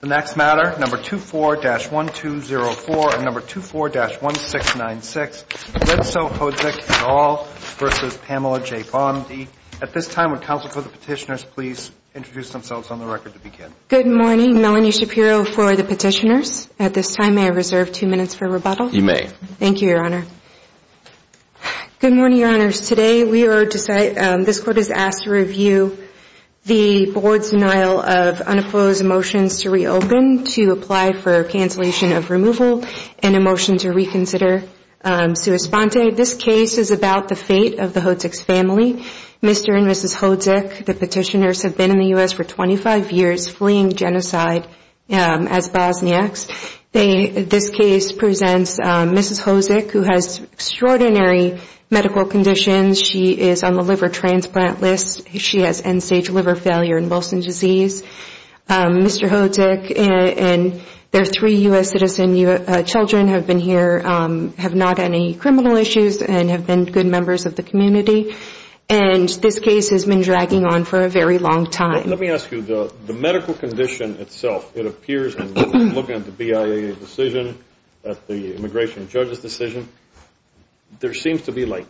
The next matter, No. 24-1204 and No. 24-1696, Lentzel Hodzic et al. v. Pamela J. Bondi. At this time, would counsel for the petitioners please introduce themselves on the record to begin? Good morning. Melanie Shapiro for the petitioners. At this time, may I reserve two minutes for rebuttal? You may. Thank you, Your Honor. Good morning, Your Honors. Today, this Court has asked to review the Board's denial of unopposed motions to reopen to apply for cancellation of removal and a motion to reconsider sua sponte. This case is about the fate of the Hodzic family, Mr. and Mrs. Hodzic. The petitioners have been in the U.S. for 25 years fleeing genocide as Bosniaks. This case presents Mrs. Hodzic, who has extraordinary medical conditions. She is on the liver transplant list. She has end-stage liver failure and Wilson disease. Mr. Hodzic and their three U.S. citizen children have been here, have not had any criminal issues, and have been good members of the community. And this case has been dragging on for a very long time. Let me ask you, the medical condition itself, it appears in looking at the BIA decision, at the immigration judge's decision, there seems to be like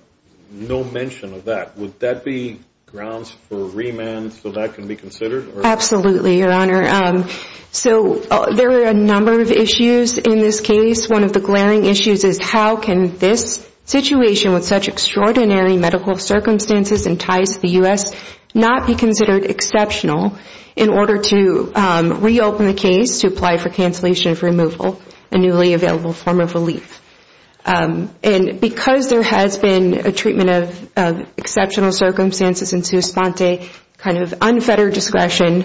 no mention of that. Would that be grounds for remand so that can be considered? Absolutely, Your Honor. So there are a number of issues in this case. One of the glaring issues is how can this situation with such extraordinary medical circumstances entice the U.S. not be considered exceptional in order to reopen the case to apply for cancellation of removal, a newly available form of relief. And because there has been a treatment of exceptional circumstances in Suspente, kind of unfettered discretion,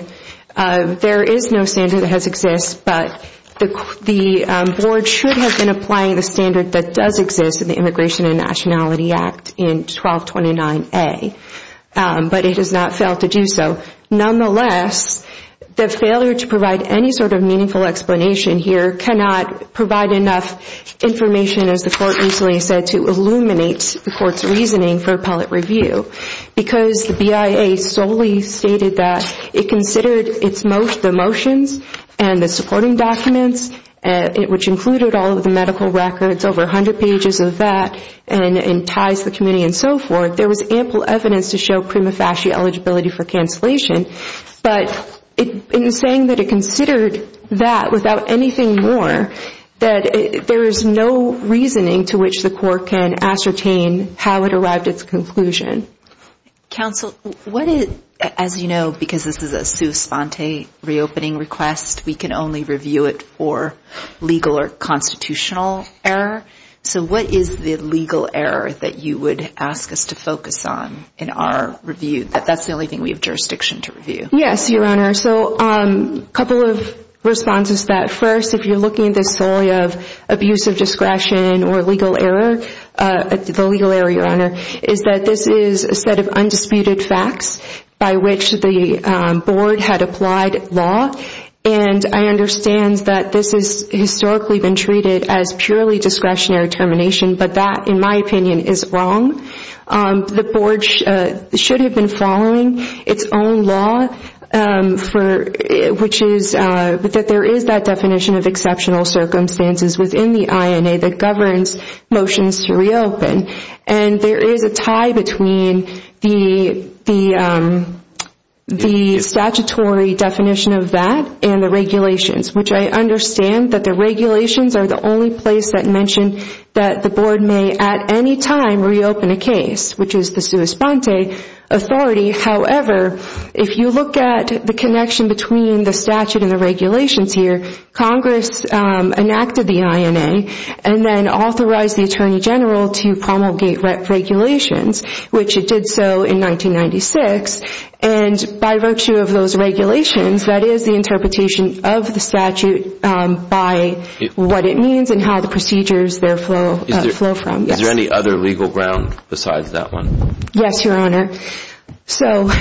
there is no standard that has existed. But the board should have been applying the standard that does exist in the Immigration and Nationality Act in 1229A. But it has not failed to do so. Nonetheless, the failure to provide any sort of meaningful explanation here cannot provide enough information, as the court recently said, to illuminate the court's reasoning for appellate review. Because the BIA solely stated that it considered the motions and the supporting documents, which included all of the medical records, over 100 pages of that, and enticed the committee and so forth. There was ample evidence to show prima facie eligibility for cancellation. But in saying that it considered that without anything more, that there is no reasoning to which the court can ascertain how it arrived at its conclusion. Counsel, what is, as you know, because this is a Suspente reopening request, we can only review it for legal or constitutional error. So what is the legal error that you would ask us to focus on in our review? That's the only thing we have jurisdiction to review. Yes, Your Honor. So a couple of responses to that. First, if you're looking at this solely of abusive discretion or legal error, the legal error, Your Honor, is that this is a set of undisputed facts by which the board had applied law. And I understand that this has historically been treated as purely discretionary termination. But that, in my opinion, is wrong. The board should have been following its own law, which is that there is that definition of exceptional circumstances within the INA that governs motions to reopen. And there is a tie between the statutory definition of that and the regulations, which I understand that the regulations are the only place that mention that the board may at any time reopen a case, which is the Suspente authority. However, if you look at the connection between the statute and the regulations here, Congress enacted the INA and then authorized the Attorney General to promulgate regulations, which it did so in 1996. And by virtue of those regulations, that is the interpretation of the statute by what it means and how the procedures there flow from. Is there any other legal ground besides that one? Yes, Your Honor. So,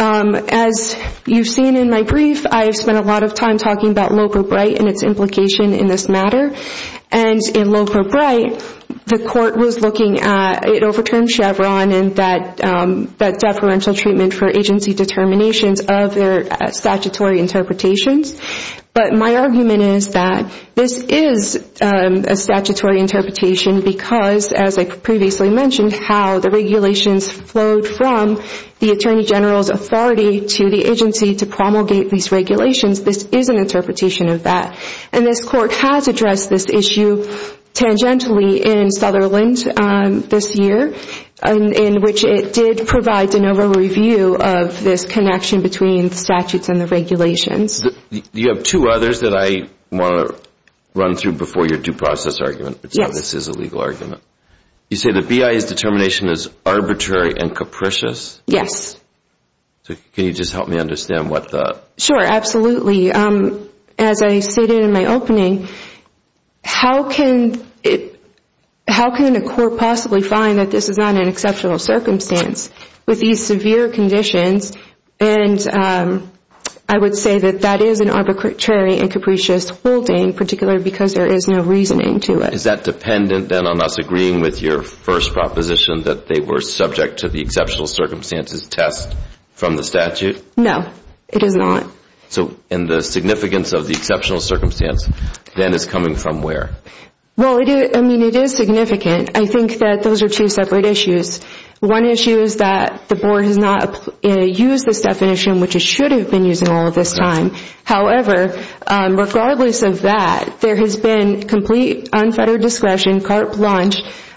as you've seen in my brief, I've spent a lot of time talking about Loper-Bright and its implication in this matter. And in Loper-Bright, the court was looking at, it overturned Chevron and that deferential treatment for agency determinations of their statutory interpretations. But my argument is that this is a statutory interpretation because, as I previously mentioned, how the regulations flowed from the Attorney General's authority to the agency to promulgate these regulations. This is an interpretation of that. And this court has addressed this issue tangentially in Sutherland this year, in which it did provide de novo review of this connection between the statutes and the regulations. You have two others that I want to run through before your due process argument. Yes. This is a legal argument. You say the BIA's determination is arbitrary and capricious? Yes. Can you just help me understand what the… Sure, absolutely. As I stated in my opening, how can a court possibly find that this is not an exceptional circumstance with these severe conditions? And I would say that that is an arbitrary and capricious holding, particularly because there is no reasoning to it. Is that dependent then on us agreeing with your first proposition that they were subject to the exceptional circumstances test from the statute? No, it is not. So in the significance of the exceptional circumstance, then it's coming from where? Well, I mean, it is significant. I think that those are two separate issues. One issue is that the board has not used this definition, which it should have been using all this time. However, regardless of that, there has been complete unfettered discretion, carte blanche,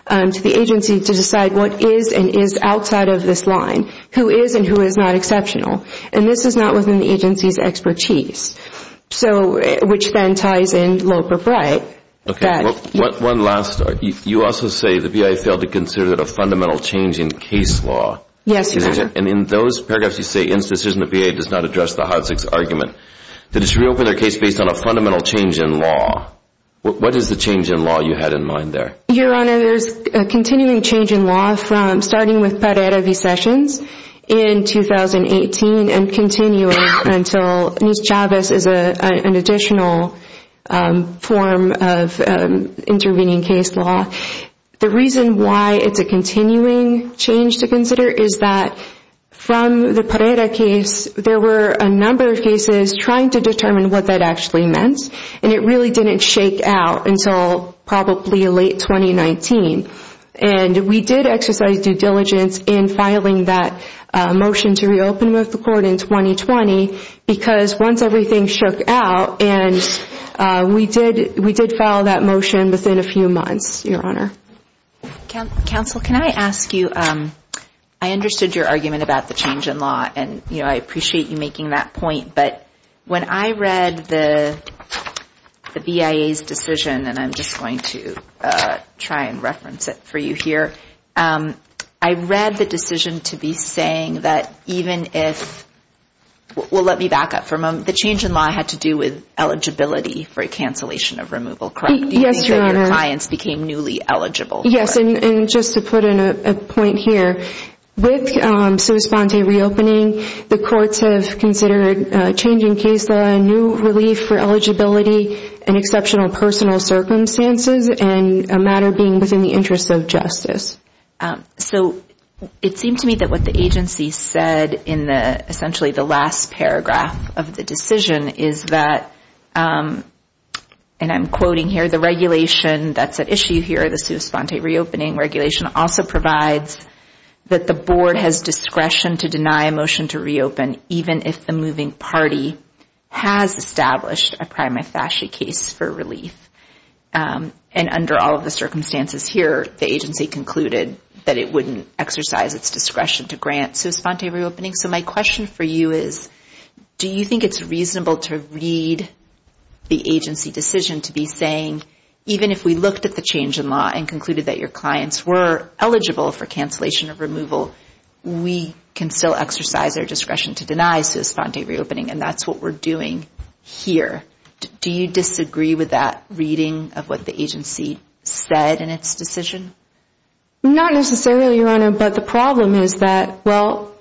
to the agency to decide what is and is outside of this line, who is and who is not exceptional. And this is not within the agency's expertise, which then ties in low propriet. One last… You also say the BIA failed to consider that a fundamental change in case law. Yes, Your Honor. And in those paragraphs, you say, in this decision, the BIA does not address the Hodzik's argument. That it should reopen their case based on a fundamental change in law. What is the change in law you had in mind there? Your Honor, there's a continuing change in law from starting with Pereira v. Sessions in 2018 and continuing until Nis-Chavez is an additional form of intervening case law. The reason why it's a continuing change to consider is that from the Pereira case, there were a number of cases trying to determine what that actually meant. And it really didn't shake out until probably late 2019. And we did exercise due diligence in filing that motion to reopen the court in 2020, because once everything shook out, and we did file that motion within a few months, Your Honor. Counsel, can I ask you, I understood your argument about the change in law, and I appreciate you making that point, but when I read the BIA's decision, and I'm just going to try and reference it for you here, I read the decision to be saying that even if, well let me back up for a moment, the change in law had to do with eligibility for a cancellation of removal, correct? Yes, Your Honor. Do you think that your clients became newly eligible for it? Yes, and just to put in a point here, with Souspande reopening, the courts have considered changing case law, as a new relief for eligibility and exceptional personal circumstances, and a matter being within the interest of justice. So it seemed to me that what the agency said in essentially the last paragraph of the decision is that, and I'm quoting here, the regulation that's at issue here, the Souspande reopening regulation, also provides that the board has discretion to deny a motion to reopen, even if the moving party has established a prima facie case for relief. And under all of the circumstances here, the agency concluded that it wouldn't exercise its discretion to grant Souspande reopening. So my question for you is, do you think it's reasonable to read the agency decision to be saying, even if we looked at the change in law and concluded that your clients were eligible for cancellation of removal, we can still exercise our discretion to deny Souspande reopening, and that's what we're doing here. Do you disagree with that reading of what the agency said in its decision? Not necessarily, Your Honor, but the problem is that, well,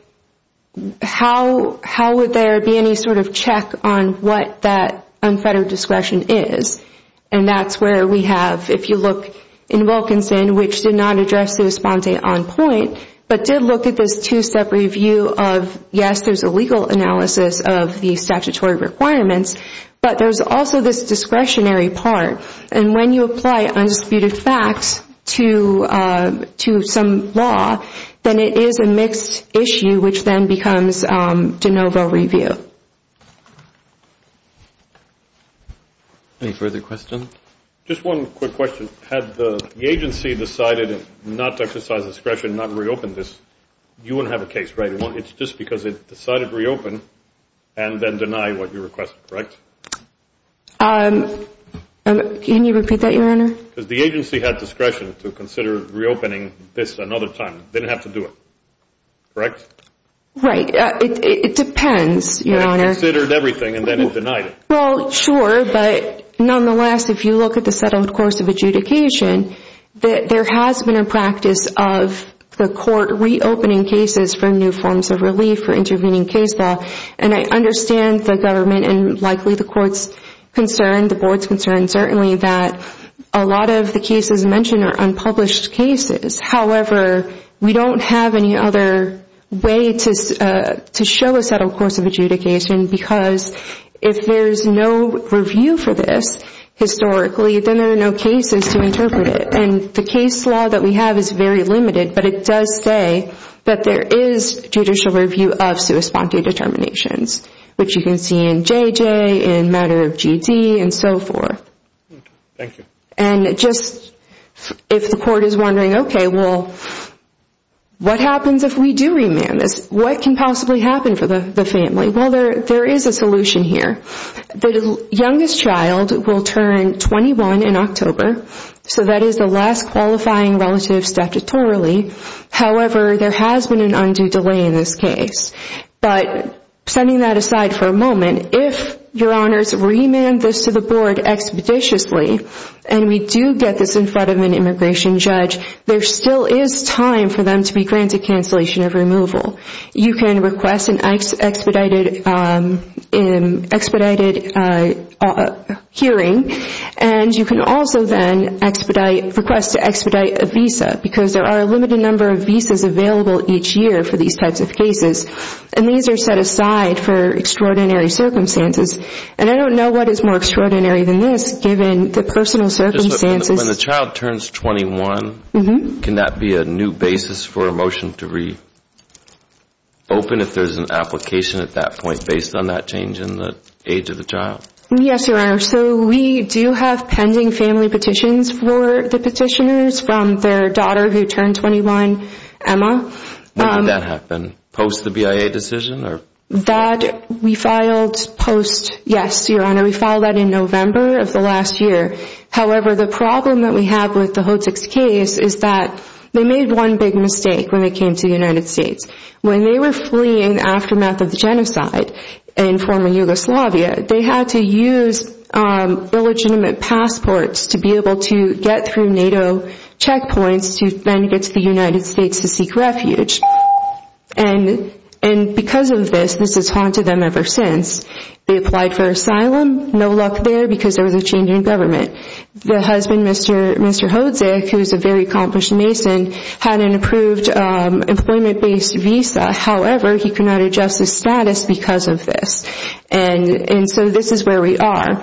how would there be any sort of check on what that unfettered discretion is? And that's where we have, if you look in Wilkinson, which did not address Souspande on point, but did look at this two-step review of, yes, there's a legal analysis of the statutory requirements, but there's also this discretionary part, and when you apply undisputed facts to some law, then it is a mixed issue, which then becomes de novo review. Any further questions? Just one quick question. Had the agency decided not to exercise discretion, not reopen this, you wouldn't have a case, right? It's just because it decided to reopen and then deny what you requested, right? Can you repeat that, Your Honor? Because the agency had discretion to consider reopening this another time. They didn't have to do it, correct? Right. It depends, Your Honor. It considered everything and then it denied it. Well, sure, but nonetheless, if you look at the settled course of adjudication, there has been a practice of the court reopening cases for new forms of relief or intervening case law, and I understand the government and likely the court's concern, the board's concern, certainly, that a lot of the cases mentioned are unpublished cases. However, we don't have any other way to show a settled course of adjudication because if there's no review for this historically, then there are no cases to interpret it. And the case law that we have is very limited, but it does say that there is judicial review of sua sponte determinations, which you can see in JJ, in matter of GT, and so forth. Thank you. And just if the court is wondering, okay, well, what happens if we do remand this? What can possibly happen for the family? Well, there is a solution here. The youngest child will turn 21 in October, so that is the last qualifying relative statutorily. However, there has been an undue delay in this case. But setting that aside for a moment, if your honors remand this to the board expeditiously, and we do get this in front of an immigration judge, there still is time for them to be granted cancellation of removal. You can request an expedited hearing, and you can also then request to expedite a visa, because there are a limited number of visas available each year for these types of cases. And these are set aside for extraordinary circumstances. And I don't know what is more extraordinary than this, given the personal circumstances. When the child turns 21, can that be a new basis for a motion to reopen, if there is an application at that point based on that change in the age of the child? Yes, your honor. So we do have pending family petitions for the petitioners from their daughter who turned 21, Emma. When did that happen? Post the BIA decision? That we filed post, yes, your honor. We filed that in November of the last year. However, the problem that we have with the Hotziks case is that they made one big mistake when they came to the United States. When they were fleeing the aftermath of the genocide in former Yugoslavia, they had to use illegitimate passports to be able to get through NATO checkpoints to then get to the United States to seek refuge. And because of this, this has haunted them ever since. They applied for asylum, no luck there because there was a change in government. The husband, Mr. Hotzik, who is a very accomplished mason, had an approved employment-based visa. However, he could not adjust his status because of this. And so this is where we are.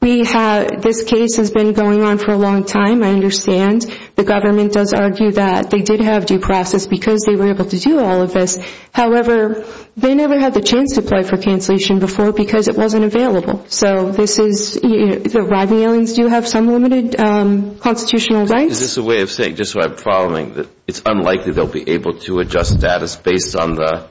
This case has been going on for a long time, I understand. The government does argue that they did have due process because they were able to do all of this. However, they never had the chance to apply for cancellation before because it wasn't available. So this is, the Rodney aliens do have some limited constitutional rights. Is this a way of saying, just so I'm following, that it's unlikely they'll be able to adjust status based on the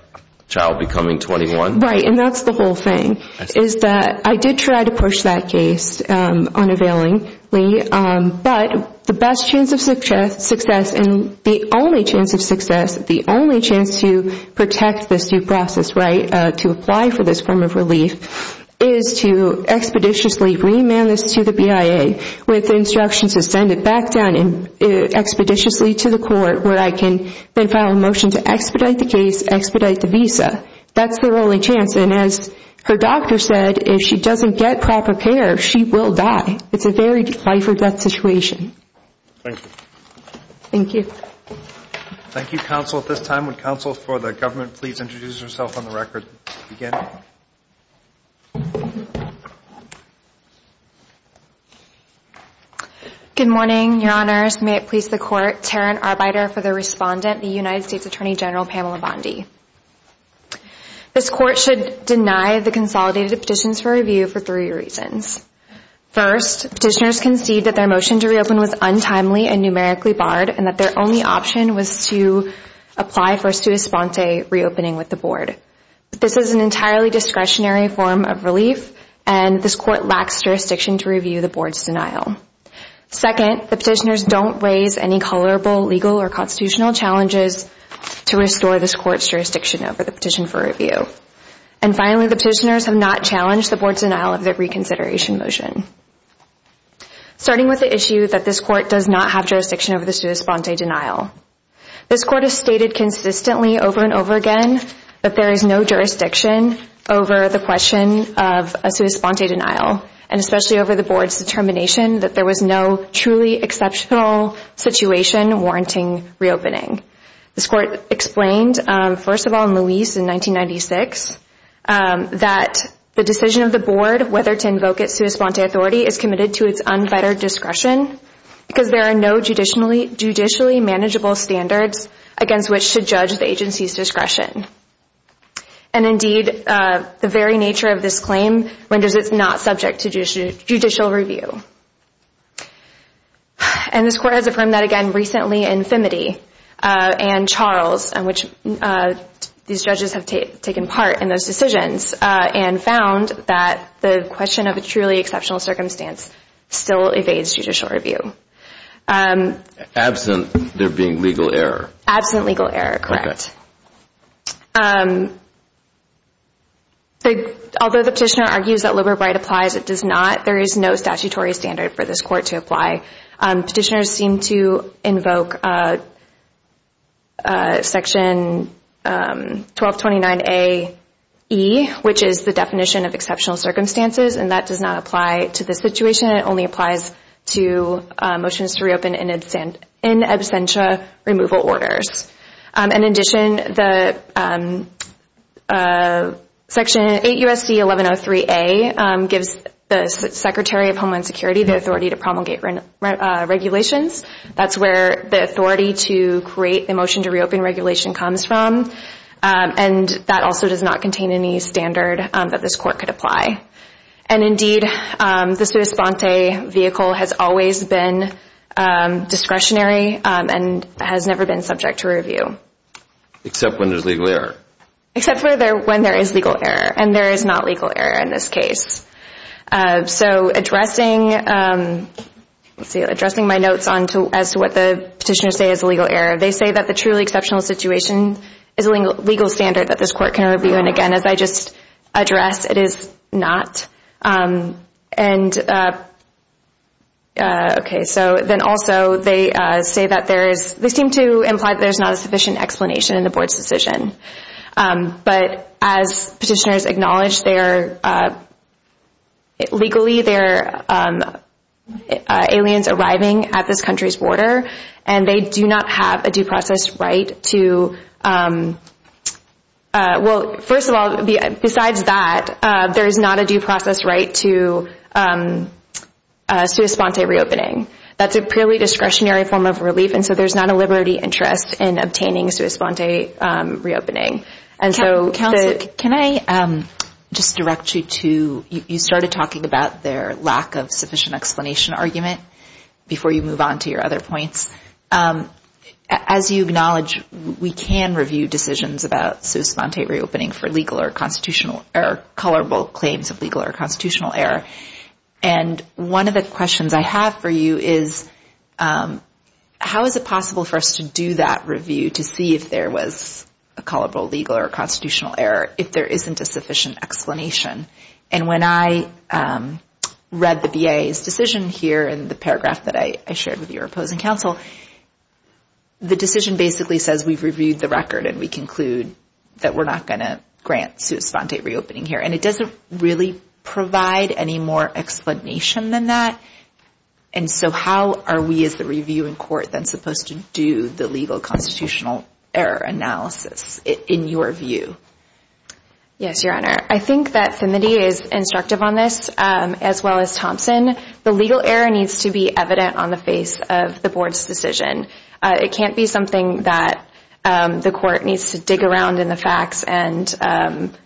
child becoming 21? Right, and that's the whole thing, is that I did try to push that case unavailingly. But the best chance of success and the only chance of success, the only chance to protect this due process, right, to apply for this form of relief, is to expeditiously remand this to the BIA with instructions to send it back down expeditiously to the court where I can then file a motion to expedite the case, expedite the visa. That's their only chance. And as her doctor said, if she doesn't get proper care, she will die. It's a very life or death situation. Thank you. Thank you. Thank you, counsel. At this time, would counsel for the government please introduce herself on the record to begin? Good morning, your honors. May it please the court, Taryn Arbeiter for the respondent, the United States Attorney General Pamela Bondi. This court should deny the consolidated petitions for review for three reasons. First, petitioners concede that their motion to reopen was untimely and numerically barred and that their only option was to apply for a sua sponte reopening with the board. This is an entirely discretionary form of relief, and this court lacks jurisdiction to review the board's denial. Second, the petitioners don't raise any colorable legal or constitutional challenges to restore this court's jurisdiction over the petition for review. And finally, the petitioners have not challenged the board's denial of the reconsideration motion. Starting with the issue that this court does not have jurisdiction over the sua sponte denial. This court has stated consistently over and over again that there is no jurisdiction over the question of a sua sponte denial, and especially over the board's determination that there was no truly exceptional situation warranting reopening. This court explained, first of all, in Louise in 1996, that the decision of the board whether to invoke its sua sponte authority is committed to its unfettered discretion because there are no judicially manageable standards against which to judge the agency's discretion. And indeed, the very nature of this claim renders it not subject to judicial review. And this court has affirmed that again recently in Femity and Charles, in which these judges have taken part in those decisions, and found that the question of a truly exceptional circumstance still evades judicial review. Absent there being legal error. Absent legal error, correct. Although the petitioner argues that liberal right applies, it does not. There is no statutory standard for this court to apply. Petitioners seem to invoke section 1229AE, which is the definition of exceptional circumstances, and that does not apply to this situation. It only applies to motions to reopen in absentia removal orders. In addition, section 8USD1103A gives the Secretary of Homeland Security the authority to promulgate regulations. That's where the authority to create the motion to reopen regulation comes from. And that also does not contain any standard that this court could apply. And indeed, the sua sponte vehicle has always been discretionary and has never been subject to review. Except when there's legal error. Except when there is legal error. And there is not legal error in this case. So addressing my notes as to what the petitioners say is legal error, they say that the truly exceptional situation is a legal standard that this court can review. And again, as I just addressed, it is not. And, okay, so then also they say that there is, they seem to imply that there's not a sufficient explanation in the board's decision. But as petitioners acknowledge, legally there are aliens arriving at this country's border and they do not have a due process right to, well, first of all, besides that, there is not a due process right to sua sponte reopening. That's a purely discretionary form of relief. And so there's not a liberty interest in obtaining sua sponte reopening. And so the- Counsel, can I just direct you to, you started talking about their lack of sufficient explanation argument. Before you move on to your other points. As you acknowledge, we can review decisions about sua sponte reopening for legal or constitutional error, colorable claims of legal or constitutional error. And one of the questions I have for you is how is it possible for us to do that review to see if there was a colorable legal or constitutional error, if there isn't a sufficient explanation. And when I read the BIA's decision here in the paragraph that I shared with your opposing counsel, the decision basically says we've reviewed the record and we conclude that we're not going to grant sua sponte reopening here. And it doesn't really provide any more explanation than that. And so how are we, as the reviewing court, then supposed to do the legal constitutional error analysis in your view? Yes, Your Honor. I think that Finley is instructive on this, as well as Thompson. The legal error needs to be evident on the face of the board's decision. It can't be something that the court needs to dig around in the facts and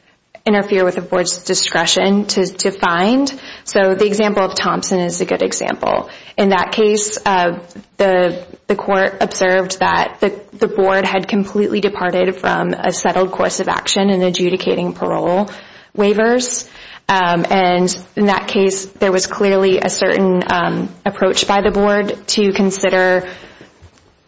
interfere with the board's discretion to find. So the example of Thompson is a good example. In that case, the court observed that the board had completely departed from a settled course of action in adjudicating parole waivers. And in that case, there was clearly a certain approach by the board to consider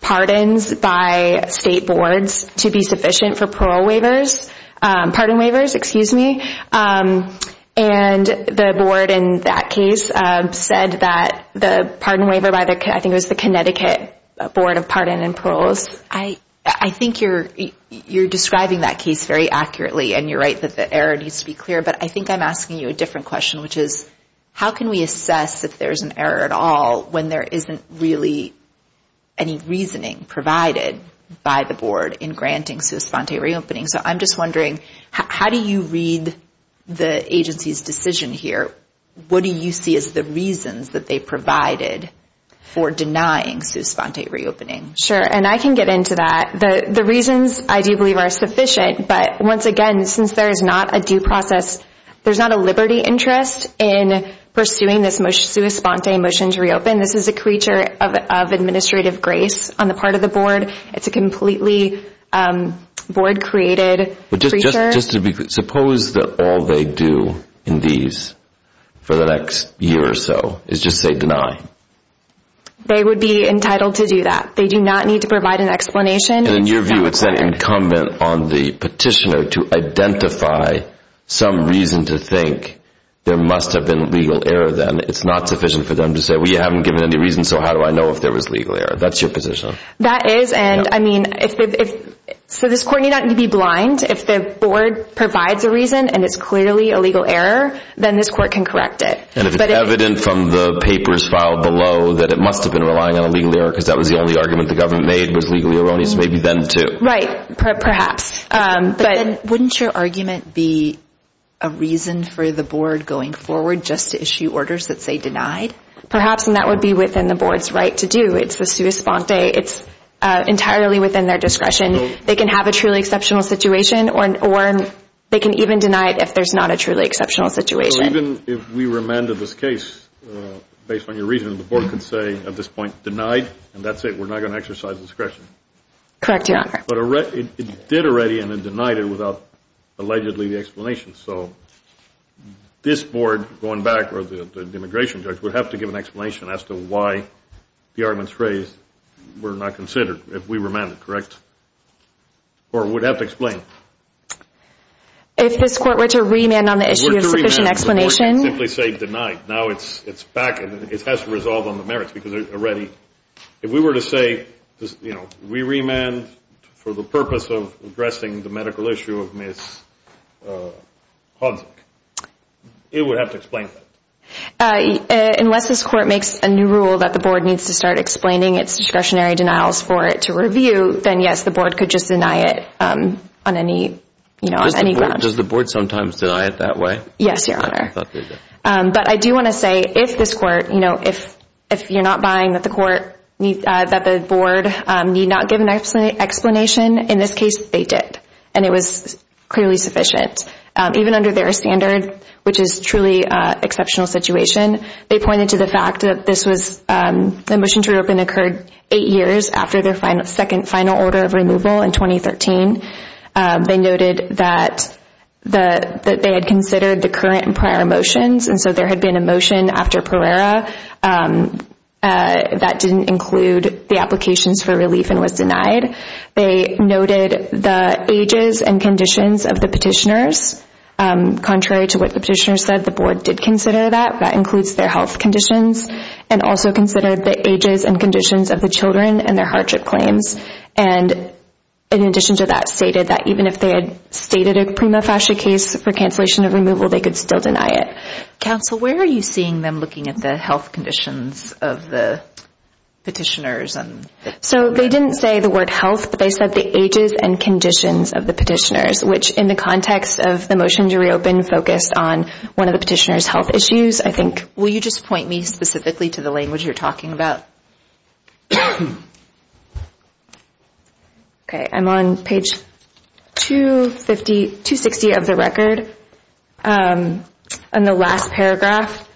pardons by state boards to be sufficient for parole waivers. Pardon waivers, excuse me. And the board in that case said that the pardon waiver by the, I think it was the Connecticut Board of Pardon and Paroles. I think you're describing that case very accurately, and you're right that the error needs to be clear. But I think I'm asking you a different question, which is how can we assess if there's an error at all when there isn't really any reasoning provided by the board in granting sui sponte reopening? So I'm just wondering, how do you read the agency's decision here? What do you see as the reasons that they provided for denying sui sponte reopening? Sure, and I can get into that. The reasons, I do believe, are sufficient. But once again, since there is not a due process, there's not a liberty interest in pursuing this sui sponte motion to reopen. This is a creature of administrative grace on the part of the board. It's a completely board-created creature. Suppose that all they do in these for the next year or so is just say deny. They would be entitled to do that. They do not need to provide an explanation. In your view, it's incumbent on the petitioner to identify some reason to think there must have been legal error then. It's not sufficient for them to say, well, you haven't given any reason, so how do I know if there was legal error? That's your position. That is. So this court need not be blind. If the board provides a reason and it's clearly a legal error, then this court can correct it. And if it's evident from the papers filed below that it must have been relying on because that was the only argument the government made was legally erroneous, maybe then too. Right, perhaps. But then wouldn't your argument be a reason for the board going forward just to issue orders that say denied? Perhaps, and that would be within the board's right to do. It's the sui sponte. It's entirely within their discretion. They can have a truly exceptional situation, or they can even deny it if there's not a truly exceptional situation. Even if we remanded this case based on your reasoning, the board can say at this point, denied, and that's it. We're not going to exercise discretion. Correct, Your Honor. But it did already and then denied it without allegedly the explanation. So this board going back, or the immigration judge, would have to give an explanation as to why the arguments raised were not considered if we remanded, correct? Or would have to explain. If this court were to remand on the issue of sufficient explanation. The board can simply say denied. Now it's back and it has to resolve on the merits because already. If we were to say we remand for the purpose of addressing the medical issue of Ms. Hodzik, it would have to explain that. Unless this court makes a new rule that the board needs to start explaining its discretionary denials for it to review, then, yes, the board could just deny it on any grounds. Does the board sometimes deny it that way? Yes, Your Honor. But I do want to say if this court, if you're not buying that the board need not give an explanation, in this case they did and it was clearly sufficient. Even under their standard, which is truly an exceptional situation, they pointed to the fact that the motion to reopen occurred eight years after their second final order of removal in 2013. They noted that they had considered the current and prior motions, and so there had been a motion after Pereira that didn't include the applications for relief and was denied. They noted the ages and conditions of the petitioners. Contrary to what the petitioners said, the board did consider that. That includes their health conditions and also considered the ages and conditions of the children and their hardship claims. And in addition to that, stated that even if they had stated a prima facie case for cancellation of removal, they could still deny it. Counsel, where are you seeing them looking at the health conditions of the petitioners? So they didn't say the word health, but they said the ages and conditions of the petitioners, which in the context of the motion to reopen focused on one of the petitioners' health issues, I think. Will you just point me specifically to the language you're talking about? Okay, I'm on page 260 of the record. In the last paragraph,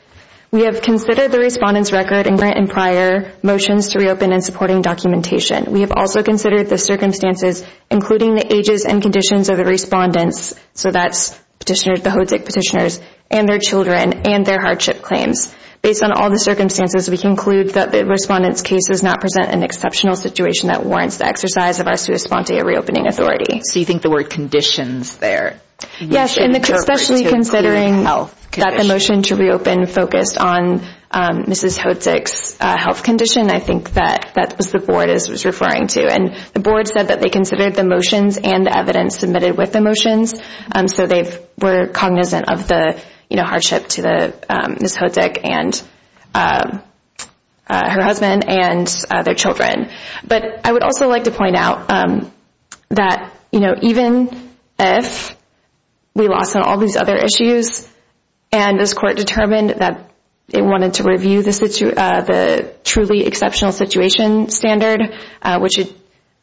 we have considered the respondent's record and current and prior motions to reopen and supporting documentation. We have also considered the circumstances, including the ages and conditions of the respondents, so that's the HODESC petitioners, and their children, and their hardship claims. Based on all the circumstances, we conclude that the respondent's case does not present an exceptional situation that warrants the exercise of our sua sponte, a reopening authority. So you think the word conditions there. Yes, and especially considering that the motion to reopen focused on Mrs. HODESC's health condition, I think that's what the board is referring to. And the board said that they considered the motions and the evidence submitted with the motions, so they were cognizant of the hardship to Mrs. HODESC and her husband and their children. But I would also like to point out that even if we lost on all these other issues and this court determined that it wanted to review the truly exceptional situation standard, which,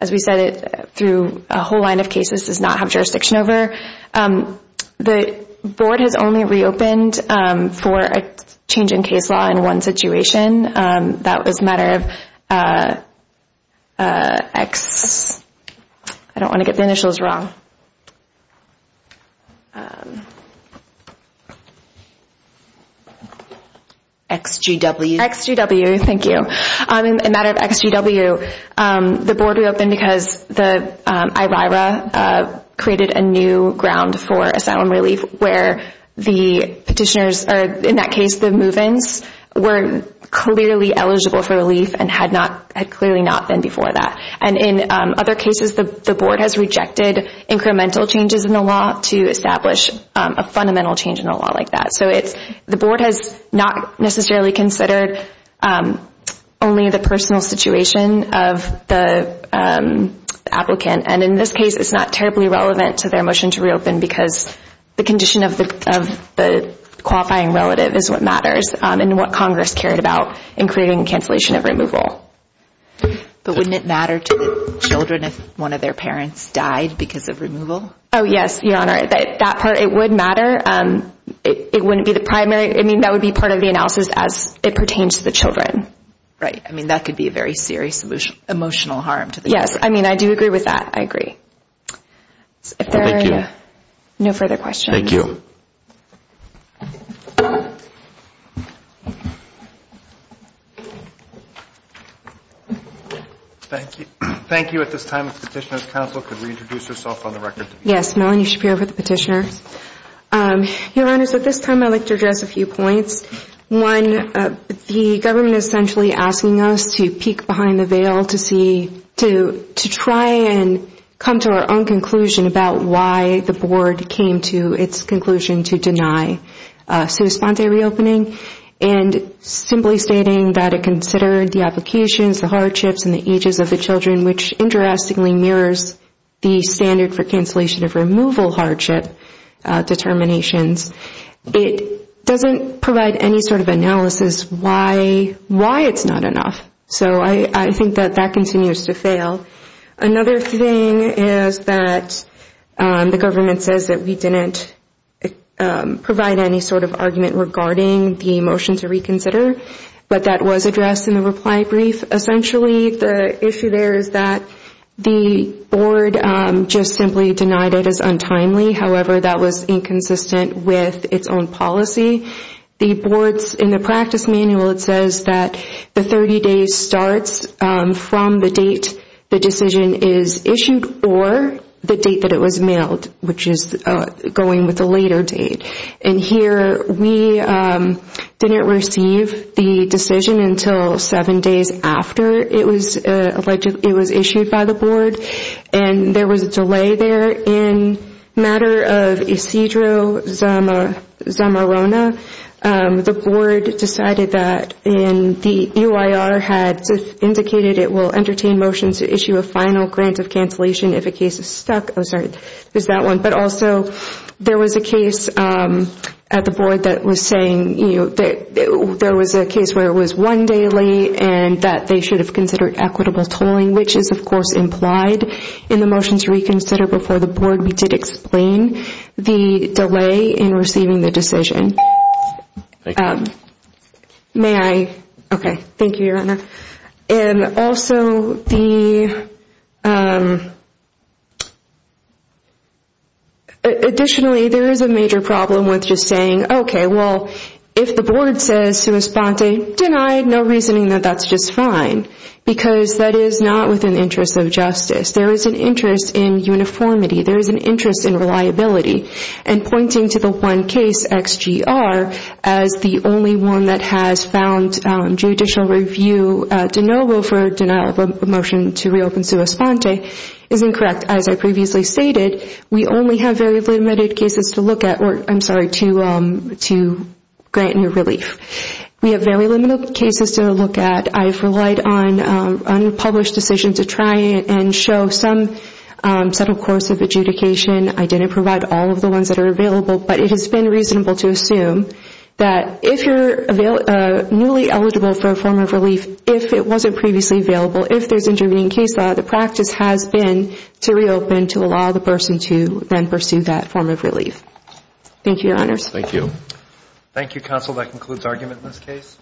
as we said, through a whole line of cases, does not have jurisdiction over, the board has only reopened for a change in case law in one situation. That was a matter of XGW. Thank you. In a matter of XGW, the board reopened because the IRIRA created a new ground for asylum relief where the petitioners, or in that case, the move-ins, were clearly eligible for relief and had clearly not been before that. And in other cases, the board has rejected incremental changes in the law to establish a fundamental change in the law like that. So the board has not necessarily considered only the personal situation of the applicant. And in this case, it's not terribly relevant to their motion to reopen because the condition of the qualifying relative is what matters and what Congress cared about in creating the cancellation of removal. But wouldn't it matter to the children if one of their parents died because of removal? Oh, yes, Your Honor, that part, it would matter. It wouldn't be the primary. I mean, that would be part of the analysis as it pertains to the children. Right. I mean, that could be a very serious emotional harm to the children. Yes, I mean, I do agree with that. I agree. Thank you. If there are no further questions. Thank you. Thank you. At this time, if the Petitioner's Council could reintroduce herself on the record. Yes, Melanie Shapiro for the Petitioner. Your Honor, at this time, I'd like to address a few points. One, the government is essentially asking us to peek behind the veil to see, to try and come to our own conclusion about why the board came to its conclusion to deny sui sponte reopening and simply stating that it considered the applications, the hardships, and the ages of the children, which interestingly mirrors the standard for cancellation of removal hardship determinations. It doesn't provide any sort of analysis why it's not enough. So I think that that continues to fail. Another thing is that the government says that we didn't provide any sort of argument regarding the motion to reconsider, but that was addressed in the reply brief. Essentially, the issue there is that the board just simply denied it as untimely. However, that was inconsistent with its own policy. In the practice manual, it says that the 30 days starts from the date the decision is issued or the date that it was mailed, which is going with the later date. Here, we didn't receive the decision until seven days after it was issued by the board. There was a delay there in matter of Isidro Zamorona. The board decided that and the UIR had indicated it will entertain motions to issue a final grant of cancellation if a case is stuck. There was a case at the board that was saying there was a case where it was one day late and that they should have considered equitable tolling, which is, of course, implied in the motion to reconsider before the board. We did explain the delay in receiving the decision. Additionally, there is a major problem with just saying, okay, well, if the board says to respond to denied, no reasoning that that's just fine, because that is not within the interest of justice. There is an interest in uniformity. There is an interest in reliability. Pointing to the one case, XGO, there is a major problem with just saying, okay, well, the UIR, as the only one that has found judicial review to no will for a denial of a motion to reopen sua sponte, is incorrect. As I previously stated, we only have very limited cases to look at or, I'm sorry, to grant new relief. We have very limited cases to look at. I've relied on unpublished decisions to try and show some subtle course of adjudication. I didn't provide all of the ones that are available, but it has been reasonable to assume that if you're newly eligible for a form of relief, if it wasn't previously available, if there's intervening case law, the practice has been to reopen to allow the person to then pursue that form of relief. Thank you, Your Honors. Thank you. Thank you, Counsel. That concludes argument in this case.